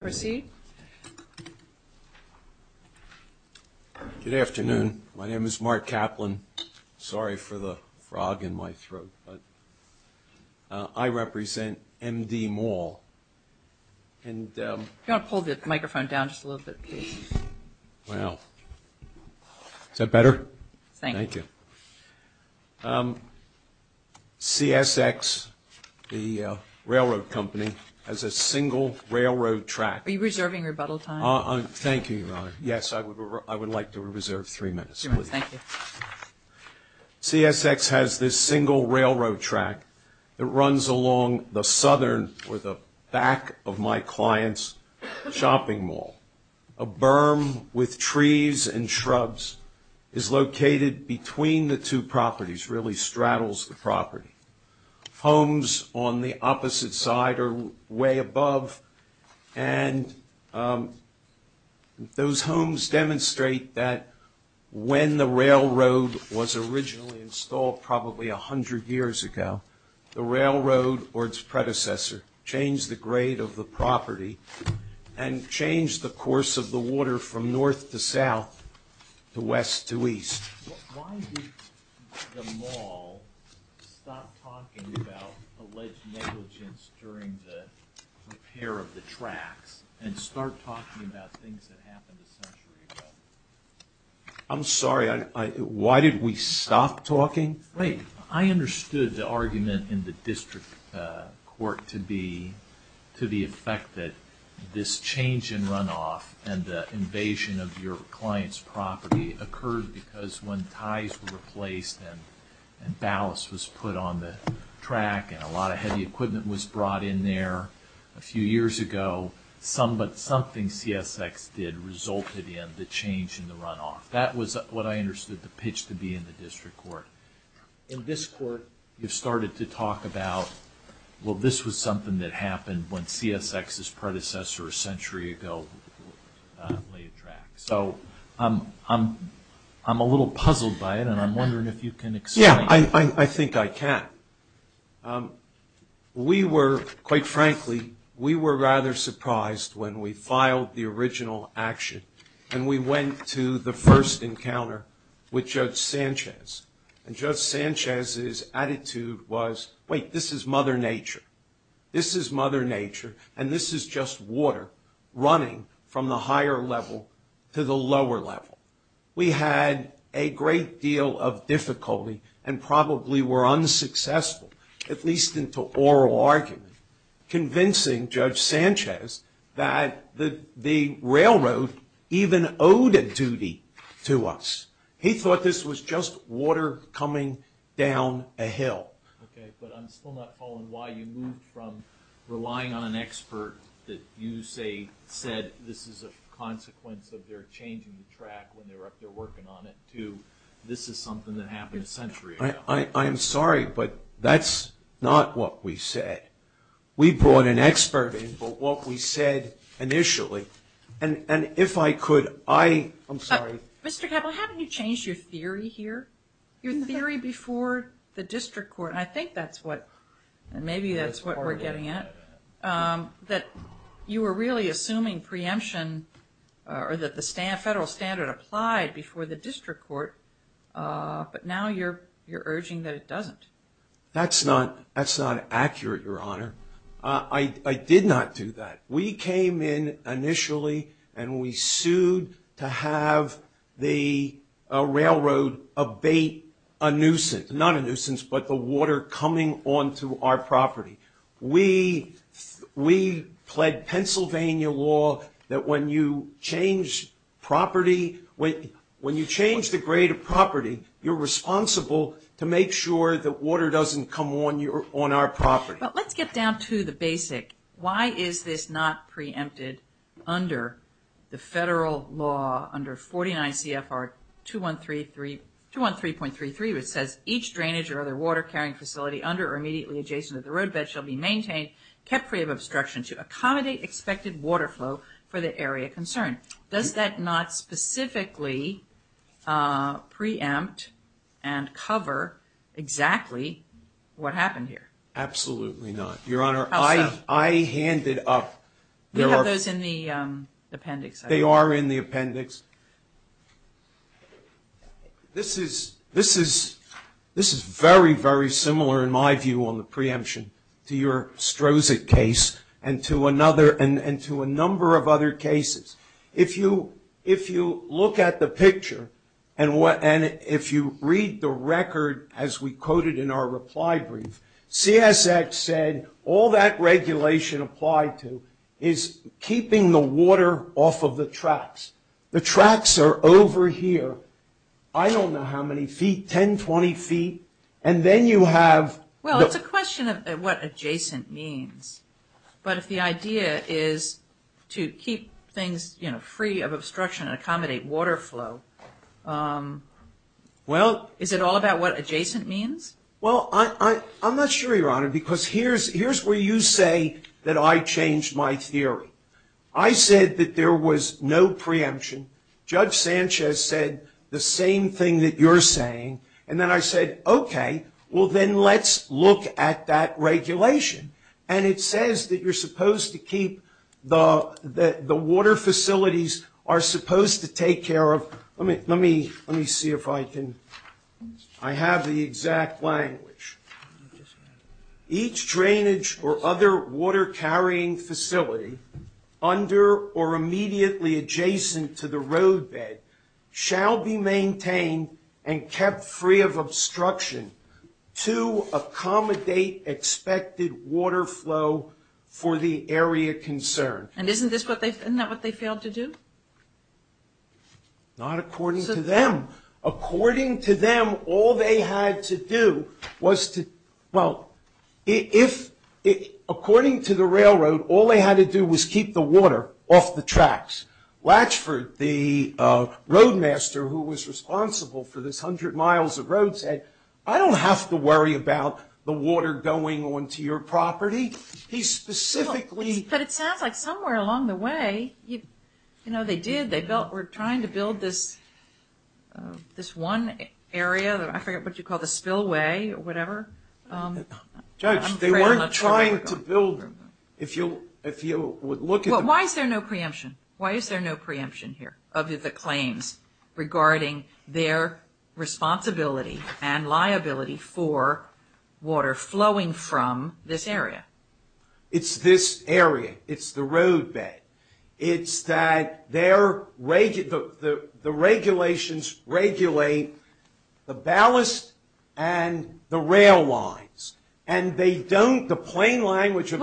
Proceed. Good afternoon. My name is Mark Kaplan. Sorry for the frog in my throat, but I represent MD Mall and You want to pull the microphone down just a little bit. Wow. Is that better? Thank you. CSX, the railroad company, has a single railroad track. Are you reserving rebuttal time? Thank you. Yes, I would like to reserve three minutes. CSX has this single railroad track that runs along the southern or the back of my clients shopping mall. A berm with trees and shrubs is located between the two properties, really straddles the property. Homes on the opposite side are way above and those homes demonstrate that when the railroad was originally installed, probably a hundred years ago, the railroad or its predecessor changed the grade of the property and changed the course of the water from north to south to west to east. I'm sorry. Why did we stop talking? I understood the argument in the district court to be this change in runoff and the invasion of your client's property occurred because when ties were replaced and ballast was put on the track and a lot of heavy equipment was brought in there a few years ago, something CSX did resulted in the change in the runoff. That was what I understood the pitch to be in the district court. In this court, you've started to talk about well, this was something that happened when CSX's predecessor a century ago laid track. So I'm a little puzzled by it, and I'm wondering if you can explain it. Yeah, I think I can. We were, quite frankly, we were rather surprised when we filed the original action and we went to the first encounter with Judge Sanchez. And Judge Sanchez's mother nature. This is mother nature, and this is just water running from the higher level to the lower level. We had a great deal of difficulty and probably were unsuccessful, at least into oral argument, convincing Judge Sanchez that the railroad even owed a duty to us. He thought this was just water coming down a hill. I'm wondering why you moved from relying on an expert that you said this is a consequence of their changing the track when they were up there working on it, to this is something that happened a century ago. I'm sorry, but that's not what we said. We brought an expert in, but what we said initially, and if I could, I'm sorry. Mr. Keppel, haven't you changed your theory here? Your theory before the district court? I think that's what, and maybe that's what we're getting at, that you were really assuming preemption or that the federal standard applied before the district court, but now you're urging that it doesn't. That's not accurate, Your Honor. I did not do that. We came in initially and we sued to have the railroad abate a nuisance. But the water coming onto our property. We pled Pennsylvania law that when you change property, when you change the grade of property, you're responsible to make sure that water doesn't come on our property. But let's get down to the basic. Why is this not preempted under the federal law under 49 CFR 213.33 which says each drainage or other water carrying facility under or immediately adjacent to the roadbed shall be maintained, kept free of obstruction to accommodate expected water flow for the area concerned. Does that not specifically preempt and cover exactly what happened here? Absolutely not. Your Honor, I handed up. We have those in the appendix. They are in the appendix. This is very, very similar in my view on the preemption to your Strozek case and to a number of other cases. If you look at the picture and if you read the record as we quoted in our reply brief, CSX said all that regulation applied to is keeping the water off of the tracks. The tracks are over here. I don't know how many feet, 10, 20 feet. And then you have. Well, it's a question of what adjacent means. But if the idea is to keep things, you know, free of obstruction and accommodate water flow. Well. Is it all about what adjacent means? Well, I'm not sure, Your Honor, because here's where you say that I changed my theory. I said that there was no preemption. Judge Sanchez said the same thing that you're saying. And then I said, okay, well, then let's look at that regulation. And it says that you're supposed to keep the water facilities are supposed to take care of. Let me see if I can. I have the exact language. Each drainage or other water carrying facility under or immediately adjacent to the roadbed shall be maintained and kept free of obstruction to accommodate expected water flow for the area concerned. And isn't that what they failed to do? Not according to them. According to them, all they had to do was to. Well, according to the railroad, all they had to do was keep the water off the tracks. Latchford, the roadmaster who was responsible for this 100 miles of road said, I don't have to worry about the water going onto your property. He specifically. But it sounds like somewhere along the way, you know, they did. They were trying to build this. This one area that I forget what you call the spillway or whatever. Judge, they weren't trying to build them. If you if you would look at. Why is there no preemption? Why is there no preemption here of the claims regarding their responsibility and liability for water flowing from this area? It's this area. It's the roadbed. It's that they're rated. The regulations regulate the ballast and the rail lines and they don't. The plane line, which is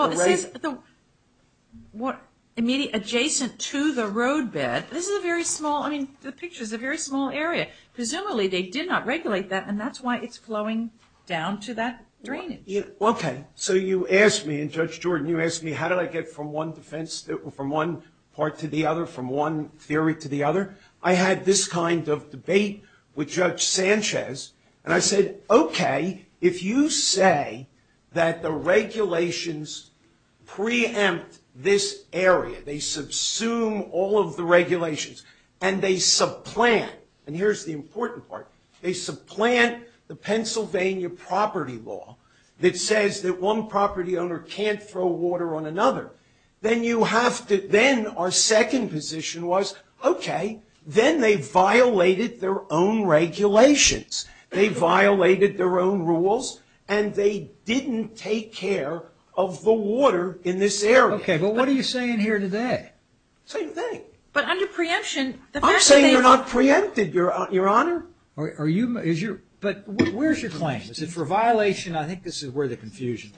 what immediate adjacent to the roadbed. This is a very small. I mean, the picture is a very small area. Presumably they did not regulate that. And that's why it's flowing down to that drainage. OK. So you asked me and Judge Jordan, you asked me, how did I get from one defense from one part to the other, from one theory to the other? I had this kind of debate with Judge Sanchez. And I said, OK, if you say that the regulations preempt this area, they subsume all of the regulations and they supplant. And here's the important part. They supplant the Pennsylvania property law that says that one property owner can't throw water on another. Then you have to, then our second position was, OK, then they violated their own regulations. They violated their own rules and they didn't take care of the water in this area. OK. But what are you saying here today? Same thing. But under preemption, the fact that they. They're not preempted, Your Honor. But where's your claim? Is it for violation? I think this is where the confusion is.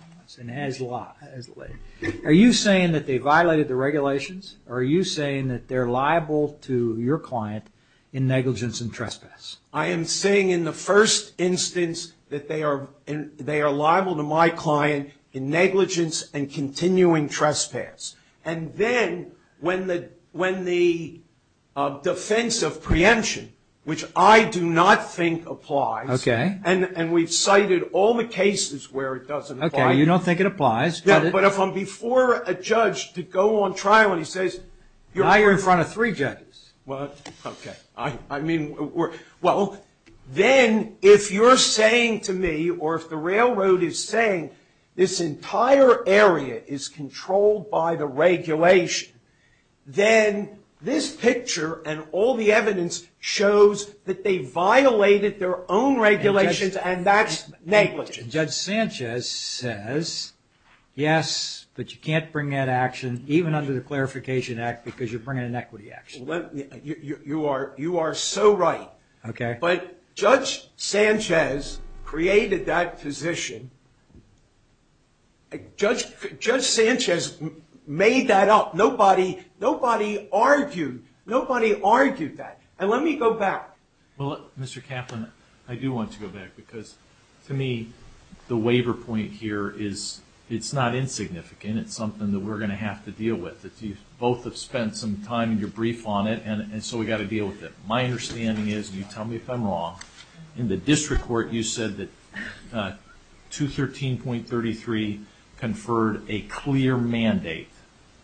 Are you saying that they violated the regulations? Or are you saying that they're liable to your client in negligence and trespass? I am saying in the first instance that they are liable to my client in negligence and continuing trespass. And then when the defense of preemption, which I do not think applies. OK. And we've cited all the cases where it doesn't apply. OK. You don't think it applies. But if I'm before a judge to go on trial and he says. Now you're in front of three judges. OK. I mean, well, then if you're saying to me or if the railroad is saying this entire area is controlled by the regulation. Then this picture and all the evidence shows that they violated their own regulations and that's negligence. Judge Sanchez says yes, but you can't bring that action even under the Clarification Act because you're bringing an equity action. You are. You are so right. OK. But Judge Sanchez created that position. Judge Sanchez made that up. Nobody. Nobody argued. Nobody argued that. And let me go back. Well, Mr. Kaplan, I do want to go back because to me, the waiver point here is it's not insignificant. It's something that we're going to have to deal with. You both have spent some time in your brief on it, and so we've got to deal with it. My understanding is, and you tell me if I'm wrong, in the district court you said that 213.33 conferred a clear mandate,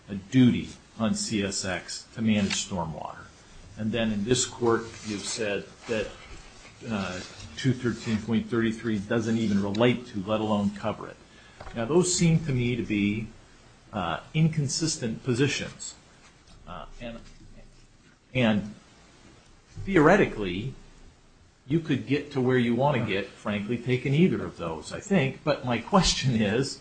a duty on CSX to manage stormwater. And then in this court you've said that 213.33 doesn't even relate to, let alone cover it. Now, those seem to me to be inconsistent positions. And theoretically, you could get to where you want to get, frankly, taking either of those, I think. But my question is,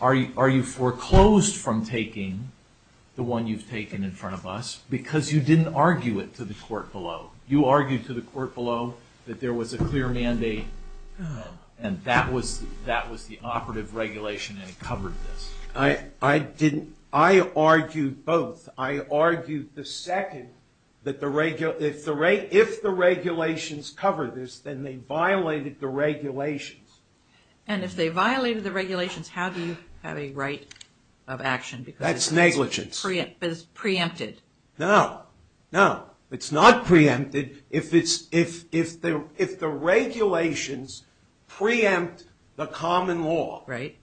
are you foreclosed from taking the one you've taken in front of us because you didn't argue it to the court below? You argued to the court below that there was a clear mandate and that was the operative regulation and it covered this. I argued both. I argued the second that if the regulations cover this, then they violated the regulations. And if they violated the regulations, how do you have a right of action? That's negligence. Because it's preempted. No. No. It's not preempted if the regulations preempt the common law. Right.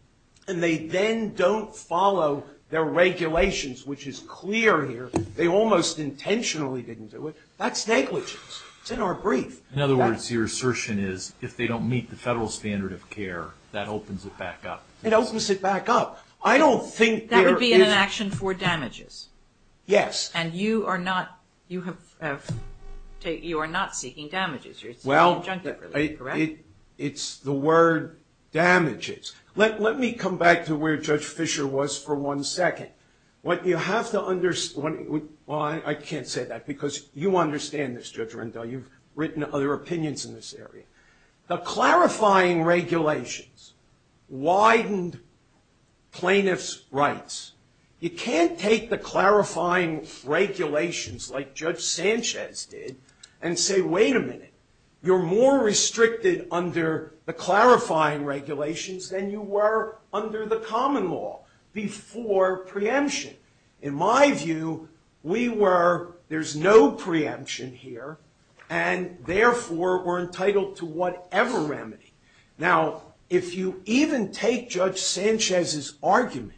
And they then don't follow their regulations, which is clear here. They almost intentionally didn't do it. That's negligence. It's in our brief. In other words, your assertion is if they don't meet the federal standard of care, that opens it back up. It opens it back up. I don't think there is... That would be an action for damages. Yes. And you are not seeking damages. Well, it's the word damages. Let me come back to where Judge Fisher was for one second. What you have to understand... Well, I can't say that because you understand this, Judge Rendell. You've written other opinions in this area. The clarifying regulations widened plaintiffs' rights. You can't take the clarifying regulations like Judge Sanchez did and say, wait a minute. You're more restricted under the clarifying regulations than you were under the common law before preemption. In my view, we were... There's no preemption here. And therefore, we're entitled to whatever remedy. Now, if you even take Judge Sanchez's argument,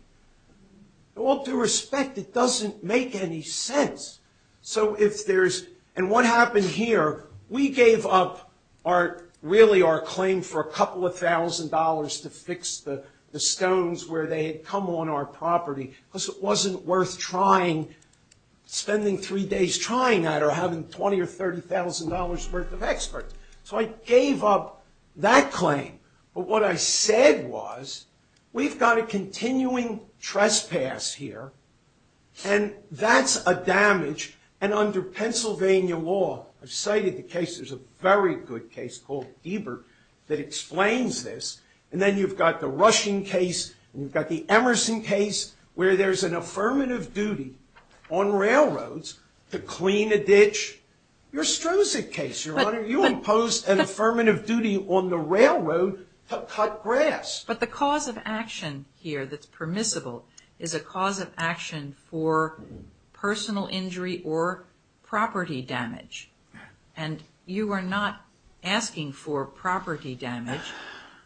all due respect, it doesn't make any sense. So if there's... And what happened here, we gave up our... Really, our claim for a couple of thousand dollars to fix the stones where they had come on our property because it wasn't worth trying... Spending three days trying that or having $20,000 or $30,000 worth of experts. So I gave up that claim. But what I said was, we've got a continuing trespass here. And that's a damage. And under Pennsylvania law, I've cited the case. There's a very good case called Ebert that explains this. And then you've got the Rushing case and you've got the Emerson case where there's an affirmative duty on railroads to clean a ditch. Your Strozik case, Your Honor, you imposed an affirmative duty on the railroad to cut grass. But the cause of action here that's permissible is a cause of action for personal injury or property damage. And you are not asking for property damage.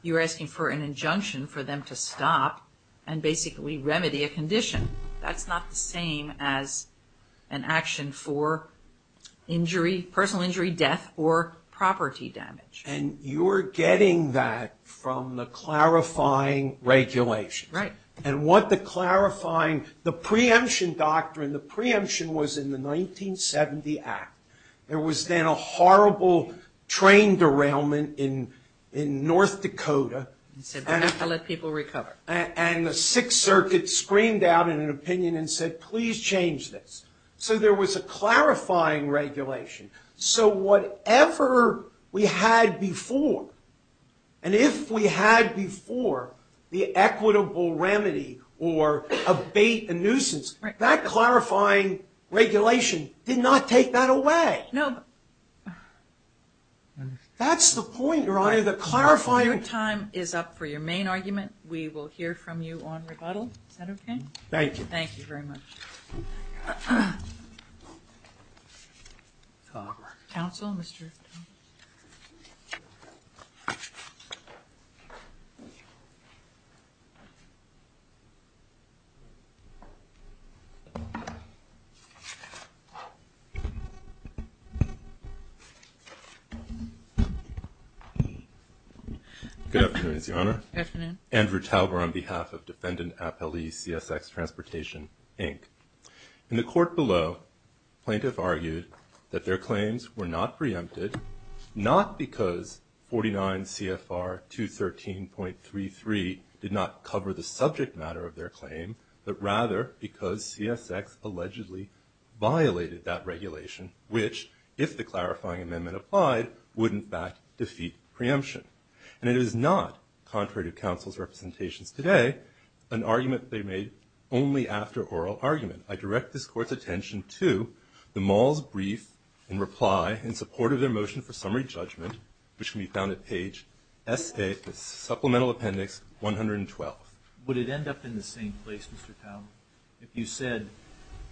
You're asking for an injunction for them to stop and basically remedy a condition. That's not the same as an action for injury, personal injury, death, or property damage. And you're getting that from the clarifying regulations. Right. And what the clarifying... The preemption doctrine, the preemption was in the 1970 Act. There was then a horrible train derailment in North Dakota. You said, we have to let people recover. And the Sixth Circuit screamed out in an opinion and said, please change this. So there was a clarifying regulation. So whatever we had before, and if we had before, the equitable remedy or abate a nuisance, that clarifying regulation did not take that away. No, but... That's the point, Your Honor, the clarifying... We will hear from you on rebuttal. Is that okay? Thank you. Thank you very much. Good afternoon, Your Honor. Good afternoon. Andrew Talbert on behalf of Defendant Appellee CSX Transportation, Inc. In the court below, plaintiff argued that their claims were not preempted, not because 49 CFR 213.33 did not cover the subject matter of their claim, but rather because CSX allegedly violated that regulation, which, if the clarifying amendment applied, would in fact defeat preemption. And it is not, contrary to counsel's representations today, an argument they made only after oral argument. I direct this court's attention to the mall's brief and reply in support of their motion for summary judgment, which can be found at page SA Supplemental Appendix 112. Would it end up in the same place, Mr. Talbert, if you said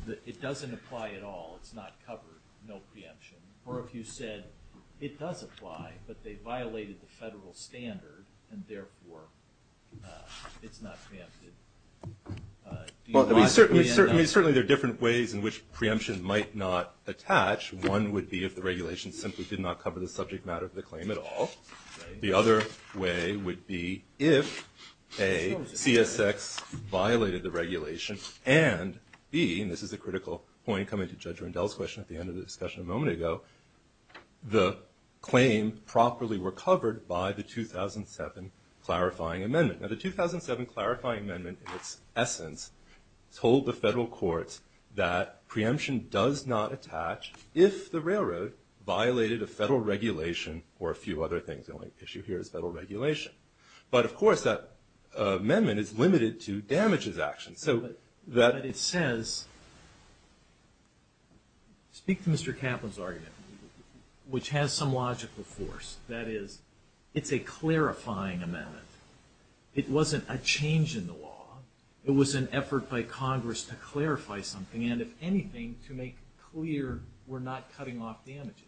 that it doesn't apply at all, it's not covered, no preemption, or if you said it does apply, but they violated the federal standard and therefore it's not preempted? Certainly there are different ways in which preemption might not attach. One would be if the regulation simply did not cover the subject matter of the claim at all. The other way would be if A, CSX violated the regulation, and B, and this is a critical point coming to Judge Rundell's question at the end of the discussion a moment ago, the claim properly recovered by the 2007 clarifying amendment. Now the 2007 clarifying amendment, in its essence, told the federal courts that preemption does not attach if the railroad violated a federal regulation or a few other things. The only issue here is federal regulation. But of course that amendment is limited to damages actions. But it says, speak to Mr. Kaplan's argument, which has some logical force. That is, it's a clarifying amendment. It wasn't a change in the law. It was an effort by Congress to clarify something, and if anything, to make clear we're not cutting off damages.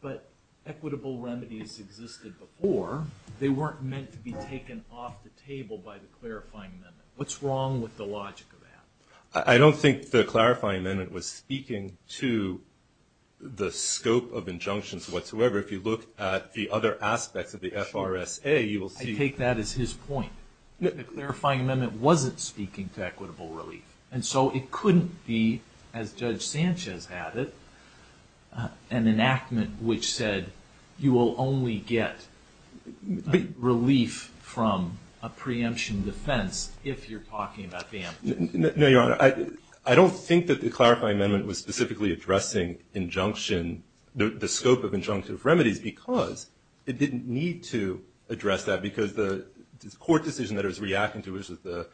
But equitable remedies existed before. They weren't meant to be taken off the table by the clarifying amendment. What's wrong with the logic of that? I don't think the clarifying amendment was speaking to the scope of injunctions whatsoever. If you look at the other aspects of the FRSA, you will see... I take that as his point. The clarifying amendment wasn't speaking to equitable relief. And so it couldn't be, as Judge Sanchez had it, an enactment which said you will only get relief from a preemption defense if you're talking about the amendment. No, Your Honor. I don't think that the clarifying amendment was specifically addressing injunction, the scope of injunctive remedies, because it didn't need to address that. Because the court decision that it was reacting to, which was the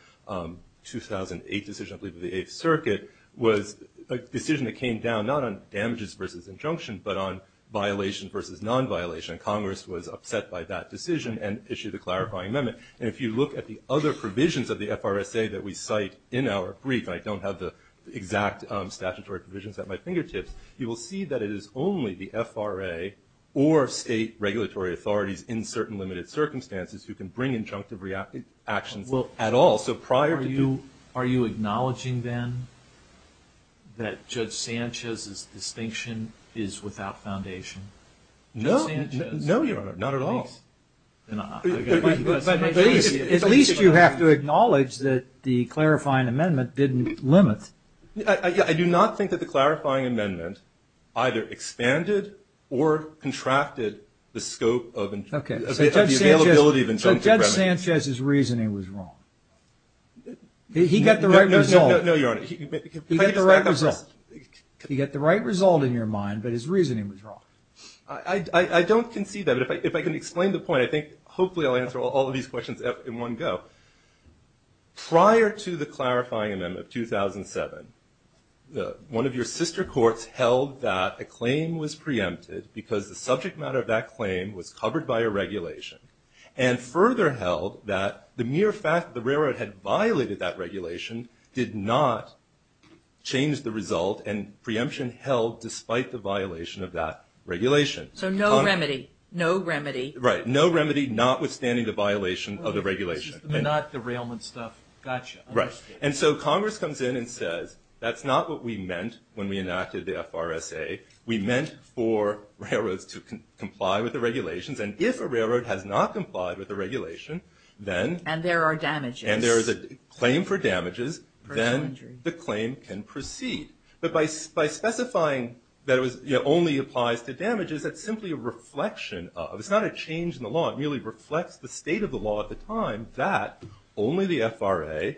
2008 decision, I believe, of the Eighth Circuit, was a decision that came down not on damages versus injunction, but on violation versus non-violation. And Congress was upset by that decision and issued a clarifying amendment. And if you look at the other provisions of the FRSA that we cite in our brief, and I don't have the exact statutory provisions at my fingertips, you will see that it is only the FRA or state regulatory authorities in certain limited circumstances who can bring injunctive actions at all. So prior to... Are you acknowledging, then, that Judge Sanchez's distinction is without foundation? No. No, Your Honor. Not at all. At least you have to acknowledge that the clarifying amendment didn't limit... I do not think that the clarifying amendment either expanded or contracted the scope of the availability of injunctive remedies. So Judge Sanchez's reasoning was wrong. He got the right result. No, Your Honor. He got the right result. He got the right result in your mind, but his reasoning was wrong. I don't concede that. But if I can explain the point, I think hopefully I'll answer all of these questions in one go. Prior to the clarifying amendment of 2007, one of your sister courts held that a claim was preempted because the subject matter of that claim was covered by a regulation and further held that the mere fact that the railroad had violated that regulation did not change the result and preemption held despite the violation of that regulation. So no remedy. No remedy. Right. No remedy notwithstanding the violation of the regulation. Not the railman stuff. Gotcha. Right. And so Congress comes in and says, that's not what we meant when we enacted the FRSA. We meant for railroads to comply with the regulations and if a railroad has not complied with the regulation, then... And there are damages. And there is a claim for damages, then the claim can proceed. But by specifying that it only applies to damages, that's simply a reflection of... It's not a change in the law. It merely reflects the state of the law at the time that only the FRA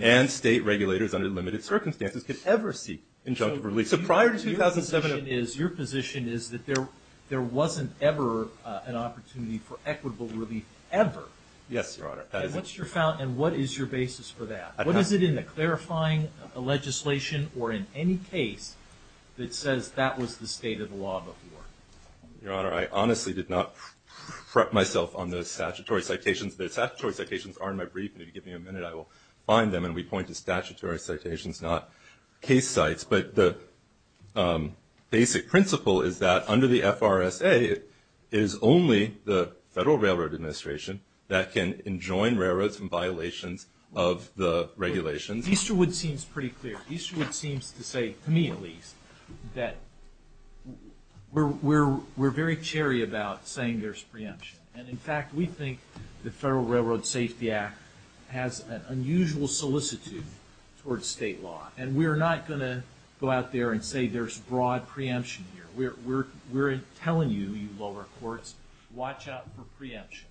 and state regulators under limited circumstances could ever seek injunctive relief. So prior to 2007... So your position is that there wasn't ever an opportunity for equitable relief ever. Yes, Your Honor. And what is your basis for that? What is it in the clarifying legislation or in any case that says that was the state of the law before? Your Honor, I honestly did not prep myself on those statutory citations. The statutory citations are in my brief and if you give me a minute, I will find them and we point to statutory citations, not case sites. But the basic principle is that under the FRSA, it is only the Federal Railroad Administration that can enjoin railroads from violations of the regulations. Easterwood seems pretty clear. Easterwood seems to say, to me at least, that we're very cheery about saying there's preemption. And in fact, we think the Federal Railroad Safety Act has an unusual solicitude towards state law. And we're not going to go out there and say there's broad preemption here. We're telling you, you lower courts, watch out for preemption.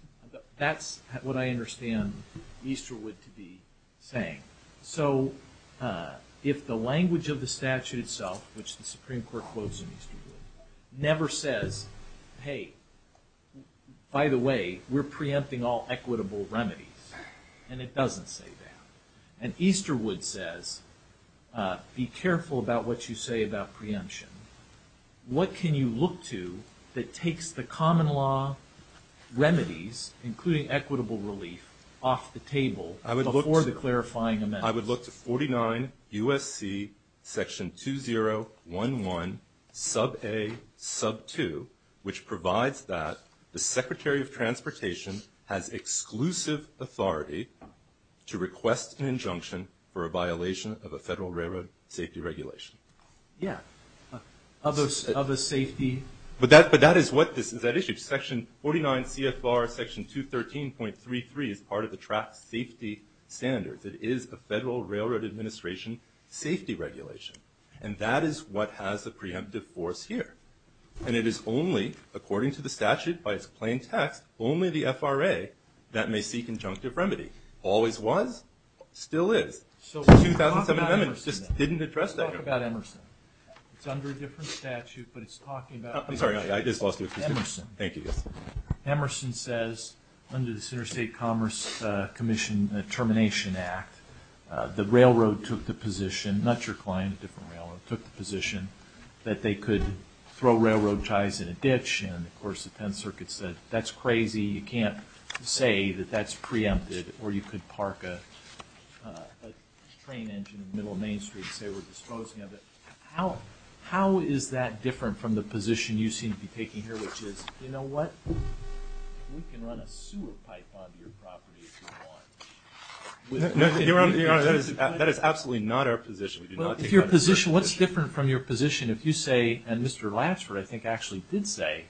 That's what I understand Easterwood to be saying. So if the language of the statute itself, which the Supreme Court quotes in Easterwood, never says, hey, by the way, we're preempting all equitable remedies, and it doesn't say that. And Easterwood says, be careful about what you say about preemption. What can you look to that takes the common law remedies, including equitable relief, off the table before the clarifying amendment? I would look to 49 U.S.C. section 201.1, sub A, sub 2, which provides that the Secretary of Transportation has exclusive authority to request an injunction for a violation of a Federal Railroad Safety Regulation. Yeah, of a safety... But that is what is at issue. Section 49 CFR section 213.33 is part of the Track Safety Standards. It is a Federal Railroad Administration safety regulation. And that is what has the preemptive force here. And it is only, according to the statute, by its plain text, only the FRA that may seek injunctive remedy. Always was, still is. 2007 amendments just didn't address that. Let's talk about Emerson. It's under a different statute, but it's talking about... I'm sorry, I just lost you. Emerson says, under this Interstate Commerce Commission Termination Act, the railroad took the position, not your client, a different railroad, took the position that they could throw railroad ties in a ditch, and of course the 10th Circuit said, that's crazy, you can't say that that's preempted, or you could park a train engine in the middle of Main Street and say we're disposing of it. How is that different from the position you seem to be taking here, which is, you know what, we can run a sewer pipe onto your property if you want. Your Honor, that is absolutely not our position. What's different from your position if you say, and Mr. Lapsford I think actually did say,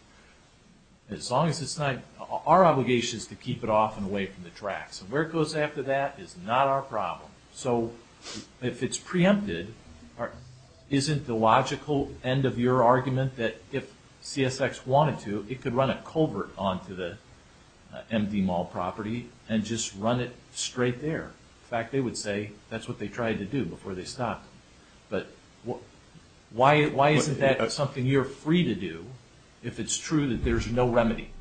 as long as it's not our obligation to keep it off and away from the tracks. Where it goes after that is not our problem. So, if it's preempted, isn't the logical end of your argument that if CSX wanted to it could run a culvert onto the empty mall property and just run it straight there? In fact, they would say that's what they tried to do before they stopped. Why isn't that something you're free to do if it's true that there's no remedy?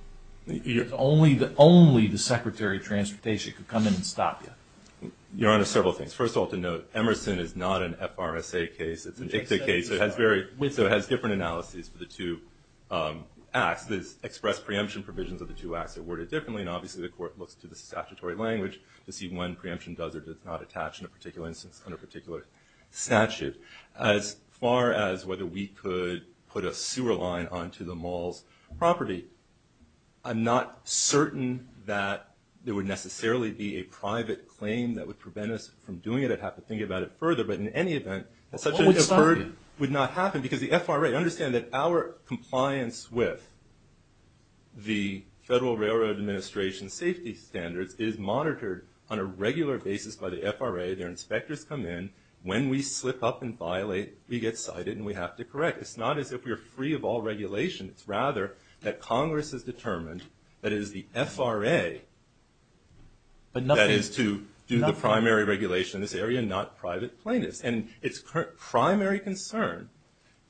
Only the Secretary of Transportation could come in and stop you? Your Honor, several things. First of all, to note, Emerson is not an FRSA case, it's an ICTA case, so it has different analyses for the two acts. The expressed preemption provisions of the two acts are worded differently, and obviously the court looks to the statutory language to see when preemption does or does not attach in a particular instance under a particular statute. As far as whether we could put a sewer line onto the mall's property, I'm not certain that there would necessarily be a private claim that would prevent us from doing it. I'd have to think about it further, but in any case, it would not happen. Because the FRA, understand that our compliance with the Federal Railroad Administration's safety standards is monitored on a regular basis by the FRA. Their inspectors come in. When we slip up and violate, we get cited and we have to correct. It's not as if we're free of all regulation. It's rather that Congress has determined that it is the FRA that is to do the primary regulation in this area, and not private plaintiffs. Its primary concern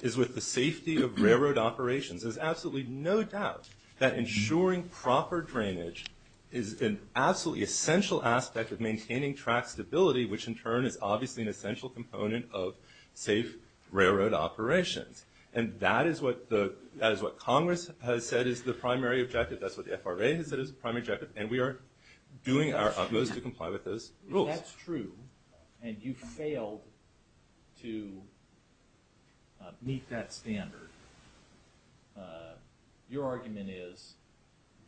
is with the safety of railroad operations. There's absolutely no doubt that ensuring proper drainage is an absolutely essential aspect of maintaining track stability, which in turn is obviously an essential component of safe railroad operations. That is what Congress has said is the primary objective. That's what the FRA has said is the primary objective. We are doing our utmost to comply with those rules. If that's true, and you failed to meet that standard, your argument is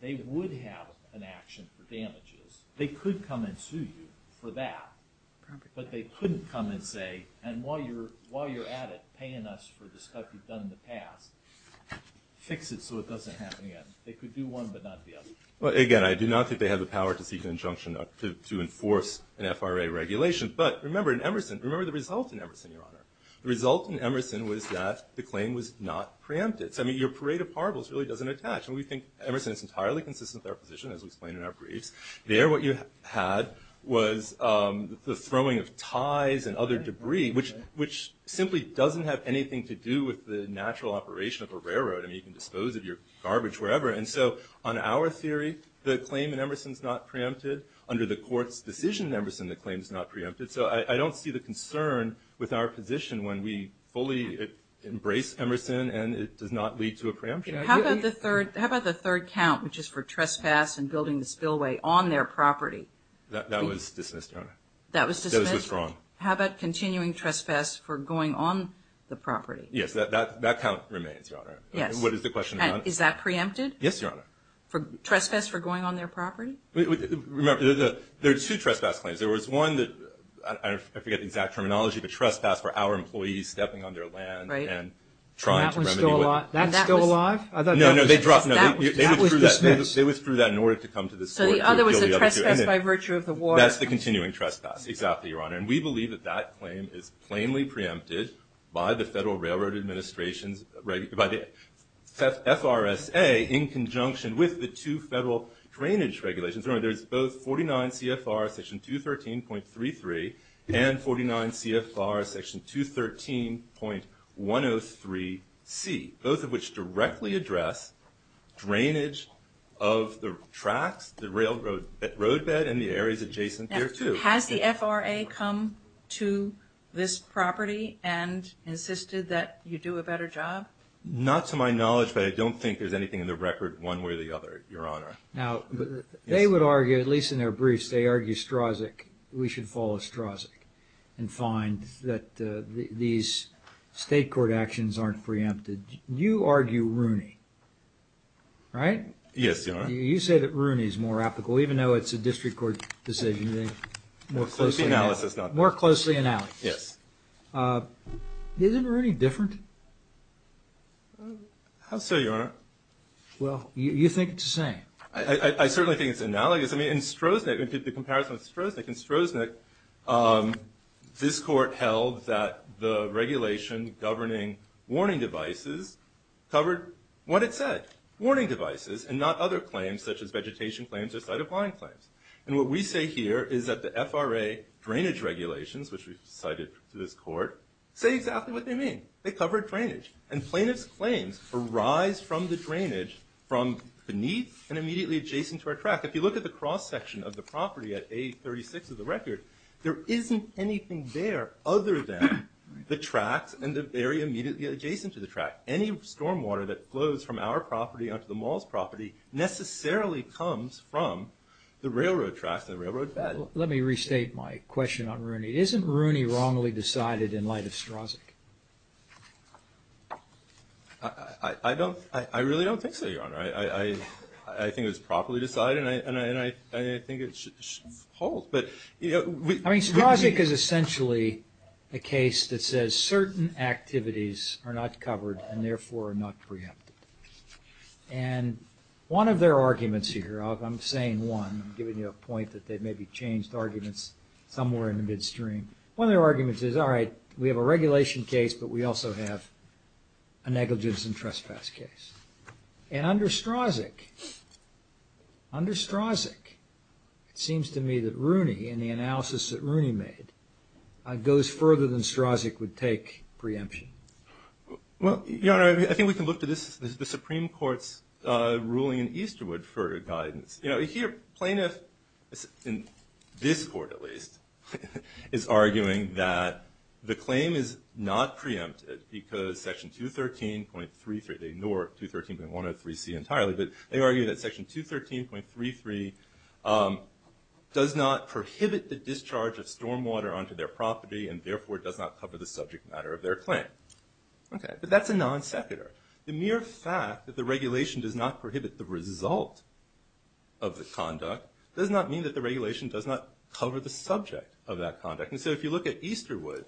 they would have an action for damages. They could come and sue you for that, but they couldn't come and say and while you're at it paying us for the stuff you've done in the past, fix it so it doesn't happen again. They could do one, but not the other. Again, I do not think they have the power to seek an injunction to enforce an FRA regulation, but remember in Emerson, remember the result in Emerson, Your Honor. The result in Emerson was that the claim was not preempted. Your parade of parables really doesn't attach. We think Emerson is entirely consistent with our position, as we explained in our briefs. There, what you had was the throwing of ties and other debris which simply doesn't have anything to do with the natural operation of a railroad. You can dispose of your garbage wherever, and so on our claim is not preempted. Under the court's decision in Emerson, the claim is not preempted. I don't see the concern with our position when we fully embrace Emerson and it does not lead to a preemption. How about the third count, which is for trespass and building the spillway on their property? That was dismissed, Your Honor. That was dismissed? That was wrong. How about continuing trespass for going on the property? Yes, that count remains, Your Honor. What is the question? Is that preempted? Yes, Your Honor. Trespass for going on their property? Remember, there are two trespass claims. There was one that, I forget the exact terminology, but trespass for our employees stepping on their land and trying to remedy it. That's still alive? No, no. They withdrew that in order to come to this court. So the other was the trespass by virtue of the water? That's the continuing trespass. Exactly, Your Honor. And we believe that that claim is plainly preempted by the Federal Railroad Administration's FRSA in conjunction with the two federal drainage regulations. Remember, there's both 49 CFR section 213.33 and 49 CFR section 213 .103C both of which directly address drainage of the tracks, the railroad bed, and the areas adjacent there too. Now, has the FRA come to this property and insisted that you do a better job? Not to my knowledge, but I don't think there's anything in the record one way or the other, Your Honor. Now, they would argue at least in their briefs, they argue we should follow Strzok and find that these state court actions aren't preempted. You argue Rooney, right? Yes, Your Honor. You say that Rooney's more applicable, even though it's a district court decision. More closely analysed. Yes. Isn't Rooney different? How so, Your Honor? Well, you think it's the same. I certainly think it's analogous. I mean, in Strzok, the comparison with Strzok, in Strzok this court held that the regulation governing warning devices covered what it said. Warning devices and not other claims such as vegetation claims or side-of-line claims. And what we say here is that the FRA drainage regulations, which we've cited to this court, say exactly what they mean. They cover drainage. And plaintiff's claims arise from the drainage from beneath and immediately adjacent to our track. If you look at the cross-section of the property at A36 of the record, there isn't anything there other than the tracks and the area immediately adjacent to the track. Any stormwater that flows from our property onto the mall's property necessarily comes from the railroad tracks Let me restate my question on Rooney. Isn't Rooney wrongly decided in light of Strzok? I don't, I really don't think so, Your Honor. I think it was properly decided and I think it should hold. I mean, Strzok is essentially a case that says certain activities are not covered and therefore are not preempted. And one of their arguments here, I'm saying one, I'm giving you a point that they maybe changed arguments somewhere in the midstream. One of their arguments is, alright, we have a regulation case but we also have a negligence and trespass case. And under Strzok, under Strzok, it seems to me that Rooney and the analysis that Rooney made goes further than Strzok would take preemption. Well, Your Honor, I think we can look to the Supreme Court's ruling in Easterwood for guidance. Here, plaintiff in this court at least is arguing that the claim is not preempted because section 213.33 they ignore 213.103c entirely, but they argue that section 213.33 does not prohibit the discharge of stormwater onto their property and therefore does not cover the subject matter of their claim. But that's a non-secular. The mere fact that the regulation does not prohibit the result of the conduct does not mean that the regulation does not cover the subject of that conduct. And so if you look at Easterwood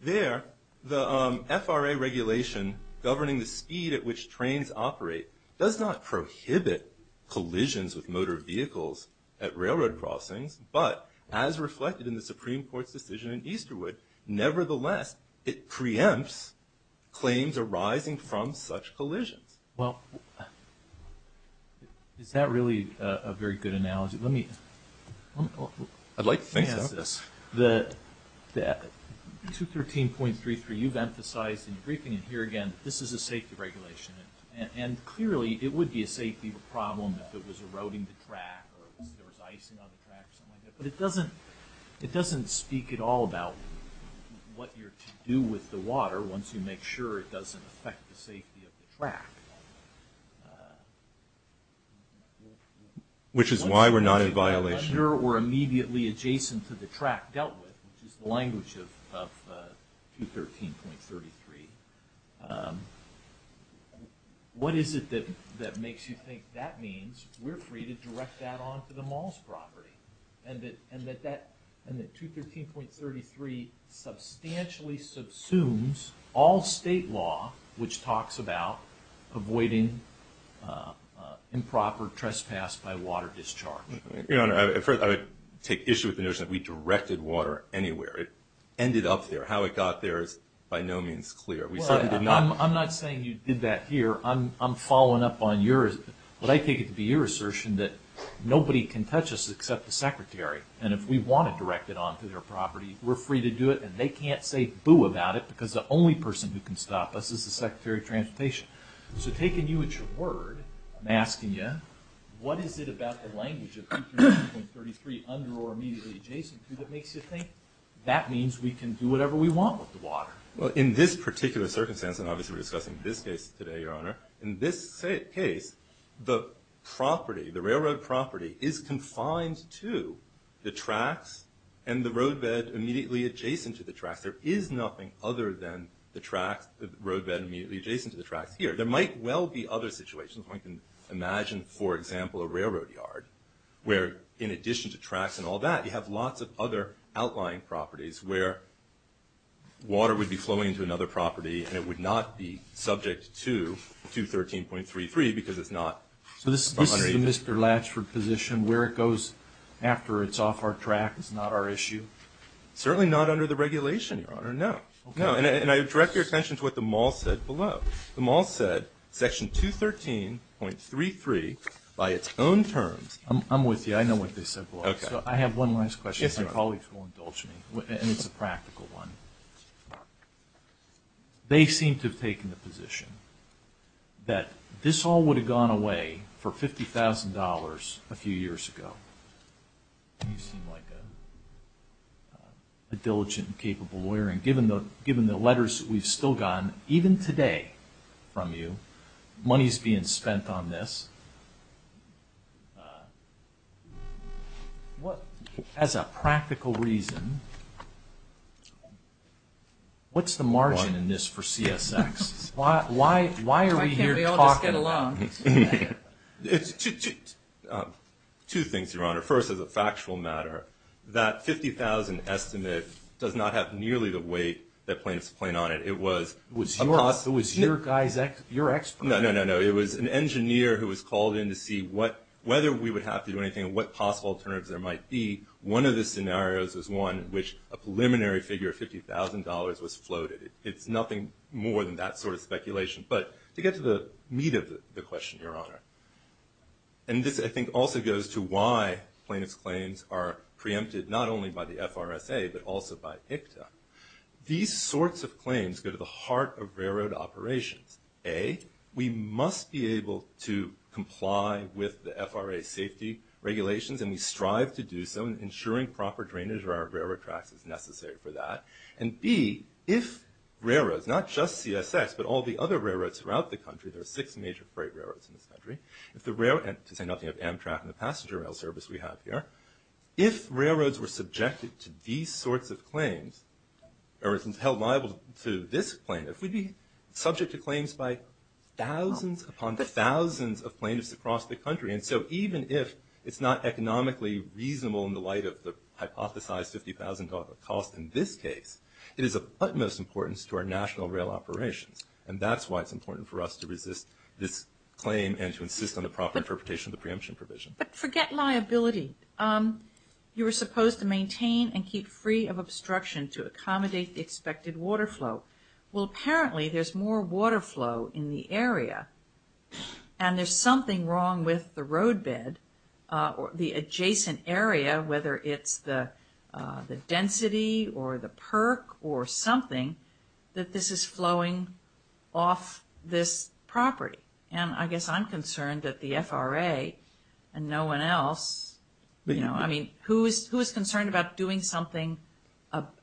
there, the FRA regulation governing the speed at which trains operate does not prohibit collisions with motor vehicles at railroad crossings, but as reflected in the Supreme Court's decision in Easterwood, nevertheless it preempts claims arising from such collisions. Well is that really a very good analogy? Let me I'd like to think so. The 213.33 you've emphasized in your briefing and here again, this is a safety regulation and clearly it would be a safety problem if it was eroding the track or if there was icing on the track or something like that, but it doesn't it doesn't speak at all about what you're to do with the water once you make sure it doesn't affect the safety of the track. Which is why we're not in violation. Or immediately adjacent to the track dealt with which is the language of 213.33 What is it that makes you think that means we're free to direct that onto the mall's property? And that 213.33 substantially subsumes all state law which talks about avoiding improper trespass by water discharge. Your Honor, at first I would take issue with the notion that we directed water anywhere. It ended up there. How it got there is by no means clear. I'm not saying you did that here. I'm following up on yours, but I take it to be your assertion that nobody can touch us except the Secretary. And if we want to direct it onto their property, we're free to do it and they can't say boo about it because the only person who can stop us is the Secretary of Transportation. So taking you at your word, I'm asking you what is it about the language of 213.33 under or immediately adjacent to that makes you think that means we can do whatever we want with the water? Well, in this particular circumstance and obviously we're discussing this case today Your Honor, in this case the property, the railroad property is confined to the tracks and the roadbed immediately adjacent to the tracks. There is nothing other than the tracks the roadbed immediately adjacent to the tracks here. There might well be other situations where I can imagine, for example, a railroad yard where in addition to tracks and all that, you have lots of other outlying properties where water would be flowing into another property and it would not be subject to 213.33 because it's not So this is the Mr. Latchford position where it goes after it's off our track, it's not our issue? Certainly not under the regulation, Your Honor. No. And I direct your attention to what the Mall said below. The Mall said section 213.33 by its own terms. I'm with you, I know what they said below. So I have one last question if my colleagues will indulge me, and it's a practical one. They seem to have taken the position that this all would have gone away for $50,000 a few years ago. You seem like a diligent and capable lawyer and given the letters we've still gotten, even today from you, money's being spent on this. As a practical reason, what's the margin in this for CSX? Why are we here talking? Two things, Your Honor. First, as a factual matter, that $50,000 estimate does not have nearly the weight that plaintiffs point on it. It was your guy's expert. No, no, no. It was an engineer who was called in to see whether we would have to do anything and what possible alternatives there might be. One of the scenarios was one in which a preliminary figure of $50,000 was floated. It's nothing more than that sort of speculation. But to get to the meat of the question, Your Honor, and this, I think, also goes to why plaintiffs' claims are preempted not only by the FRSA but also by IPTA, these sorts of claims go to the heart of railroad operations. A, we must be able to comply with the FRA safety regulations and we strive to do so, ensuring proper drainage of our railroad tracks is necessary for that. And B, if all the other railroads throughout the country, there are six major freight railroads in this country, and to say nothing of Amtrak and the passenger rail service we have here, if railroads were subjected to these sorts of claims, or held liable to this plaintiff, we'd be subject to claims by thousands upon thousands of plaintiffs across the country. And so even if it's not economically reasonable in the light of the hypothesized $50,000 cost in this case, it is of utmost importance to our national rail operations and that's why it's important for us to resist this claim and to insist on the proper interpretation of the preemption provision. But forget liability. You were supposed to maintain and keep free of obstruction to accommodate the expected water flow. Well apparently there's more water flow in the area and there's something wrong with the roadbed or the adjacent area, whether it's the density or the that this is flowing off this property and I guess I'm concerned that the FRA and no one else you know, I mean, who is concerned about doing something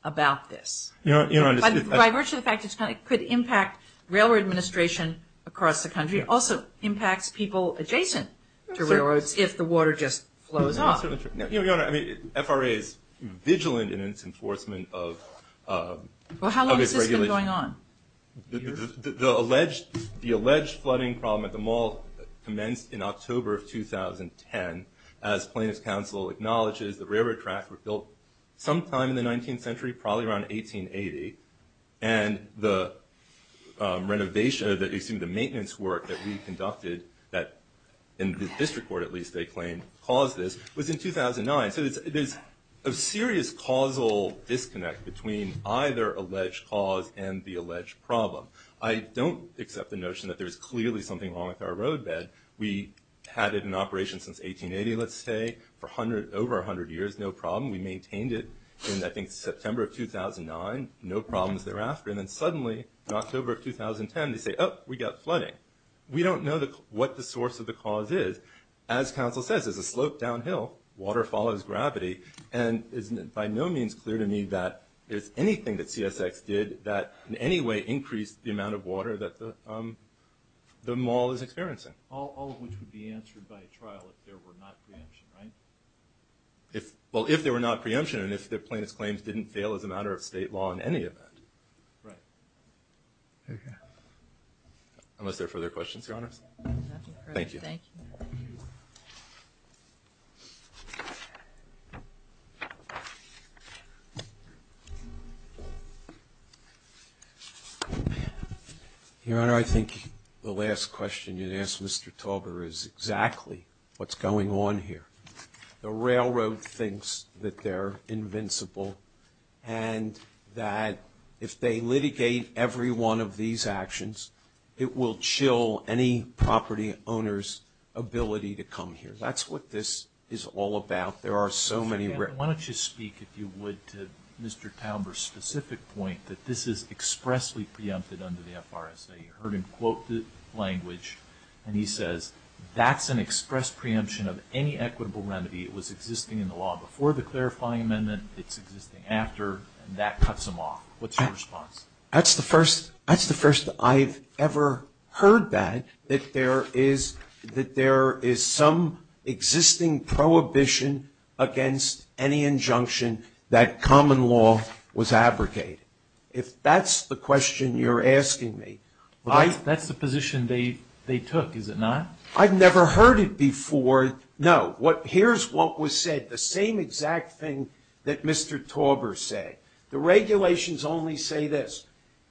about this? By virtue of the fact that it could impact railroad administration across the country, it also impacts people adjacent to railroads if the water just flows off. Your Honor, I mean, FRA is vigilant in its enforcement of Well how long has this been going on? The alleged the alleged flooding problem at the mall commenced in October of 2010 as plaintiff's counsel acknowledges the railroad tracks were built sometime in the 19th century probably around 1880 and the renovation, excuse me, the maintenance work that we conducted in the district court at least they claim caused this was in 2009. So there's a serious causal disconnect between either alleged cause and the alleged problem I don't accept the notion that there's clearly something wrong with our roadbed we had it in operation since 1880 let's say for over 100 years, no problem, we maintained it in I think September of 2009 no problems thereafter and then suddenly in October of 2010 they say, oh, we got flooding. We don't know what the source of the cause is as counsel says, there's a slope down hill, water follows gravity and it's by no means clear to me that there's anything that CSX did that in any way increased the amount of water that the mall is experiencing All of which would be answered by a trial if there were not preemption, right? Well, if there were not preemption and if the plaintiff's claims didn't fail as a matter of state law in any event Right Unless there are further questions your honors? Thank you Your honor, I think the last question you'd ask Mr. Tauber is exactly what's going on here The railroad thinks that they're invincible and that if they litigate every one of these actions it will chill any to come here. That's what this is all about. There are so many ways to do it Why don't you speak if you would to Mr. Tauber's specific point that this is expressly preempted under the FRSA. You heard him quote the language and he says that's an express preemption of any equitable remedy that was existing in the law before the clarifying amendment it's existing after and that cuts them off. What's your response? That's the first I've ever heard that that there is some existing prohibition against any injunction that common law was abrogated If that's the question you're asking me That's the position they took, is it not? I've never heard it before No. Here's what was said. The same exact thing that Mr. Tauber said The regulations only say this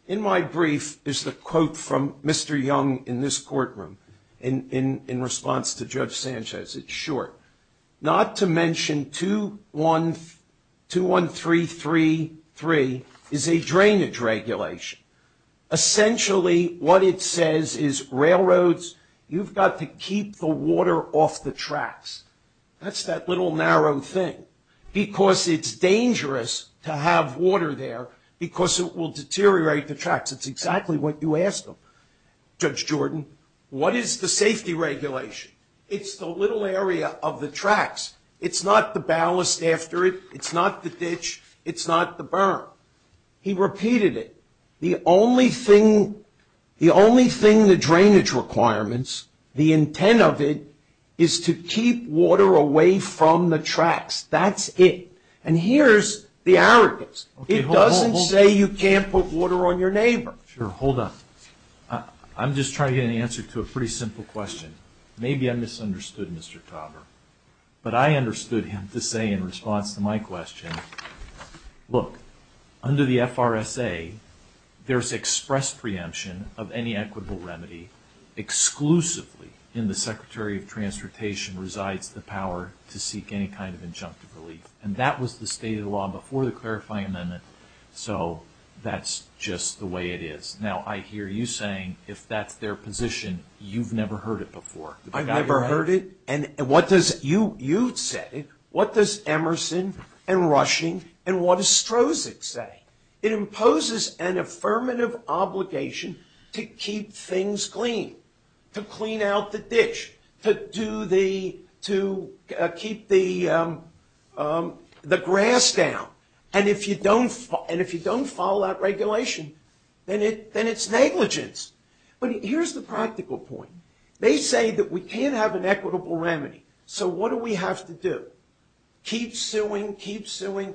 In my brief is the quote from Mr. Young in this courtroom in response to Judge Sanchez, it's short Not to mention 21333 is a drainage regulation Essentially what it says is railroads, you've got to keep the water off the tracks That's that little narrow thing because it's dangerous to have water there because it will deteriorate the tracks. It's exactly what you asked Judge Jordan What is the safety regulation? It's the little area of the tracks. It's not the ballast after it. It's not the ditch It's not the burn He repeated it. The only thing the drainage requirements the intent of it is to keep water away from the tracks. That's it And here's the arrogance It doesn't say you can't put water on your neighbor Sure, hold on I'm just trying to get an answer to a pretty simple question. Maybe I misunderstood Mr. Tauber, but I understood him to say in response to my question, look under the FRSA there's express preemption of any equitable remedy exclusively in the Secretary of Transportation resides the power to seek any kind of injunctive relief and that was the state of the law before the clarifying amendment So that's just the way it is. Now I hear you saying if that's their position you've never heard it before I've never heard it and what does you say? What does Emerson and Rushing and what does Strozic say? It imposes an affirmative obligation to keep things clean. To clean out the ditch. To do the to keep the the grass down and if you don't follow that regulation then it's negligence but here's the practical point they say that we can't have an equitable remedy. So what do we have to do? Keep suing keep suing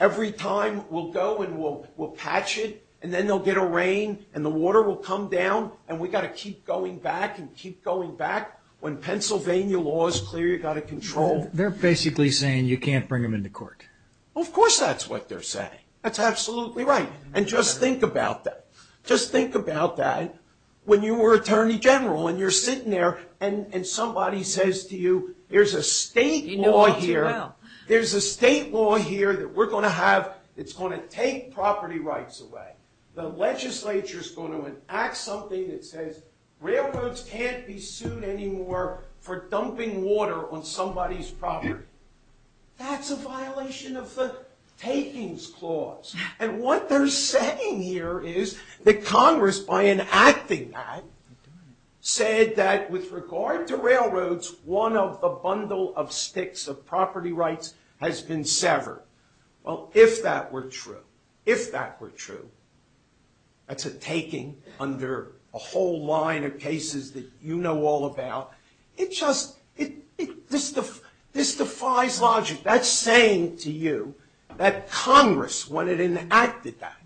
every time we'll go and we'll patch it and then they'll get a rain and the water will come down and we've got to keep going back and keep going back when Pennsylvania law is clear you've got to control They're basically saying you can't bring them into court. Of course that's what they're saying. That's absolutely right and just think about that just think about that when you were Attorney General and you're sitting there and somebody says to you there's a state law here there's a state law here that we're going to have that's going to take property rights away the legislature's going to enact something that says railroads can't be sued anymore for dumping water on somebody's property that's a violation of the takings clause and what they're saying here is that Congress by enacting that said that with regard to railroads one of the bundle of sticks of property rights has been severed. Well if that were true that's a taking under a whole line of bail. It just this defies logic. That's saying to you that Congress when it enacted that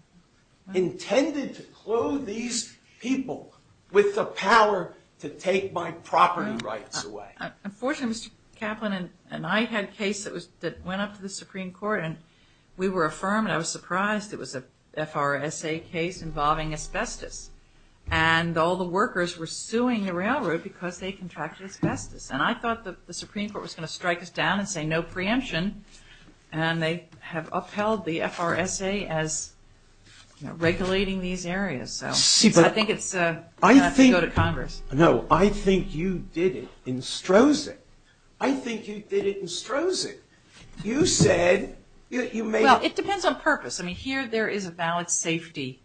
intended to clothe these people with the power to take my property rights away. Unfortunately Mr. Kaplan and I had a case that went up to the Supreme Court and we were affirmed and I was surprised it was a FRSA case involving asbestos and all the workers were suing the railroad because they contracted asbestos and I thought the Supreme Court was going to strike us down and say no preemption and they have upheld the FRSA as regulating these areas so I think it's time to go to Congress. I think you did it in Strosing. I think you did it in Strosing. You said Well it depends on purpose. I mean here there is a valid safety.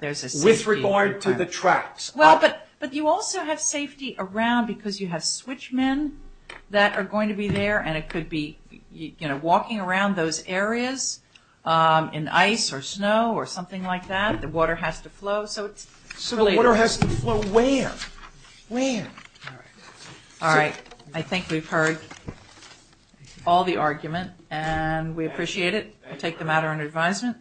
With regard to the tracks. But you also have safety around because you have switch men that are going to be there and it could be walking around those areas in ice or snow or something like that. The water has to flow so it's related. So the water has to flow where? Alright. I think we've heard all the argument and we appreciate it. I'll take the matter under advisement.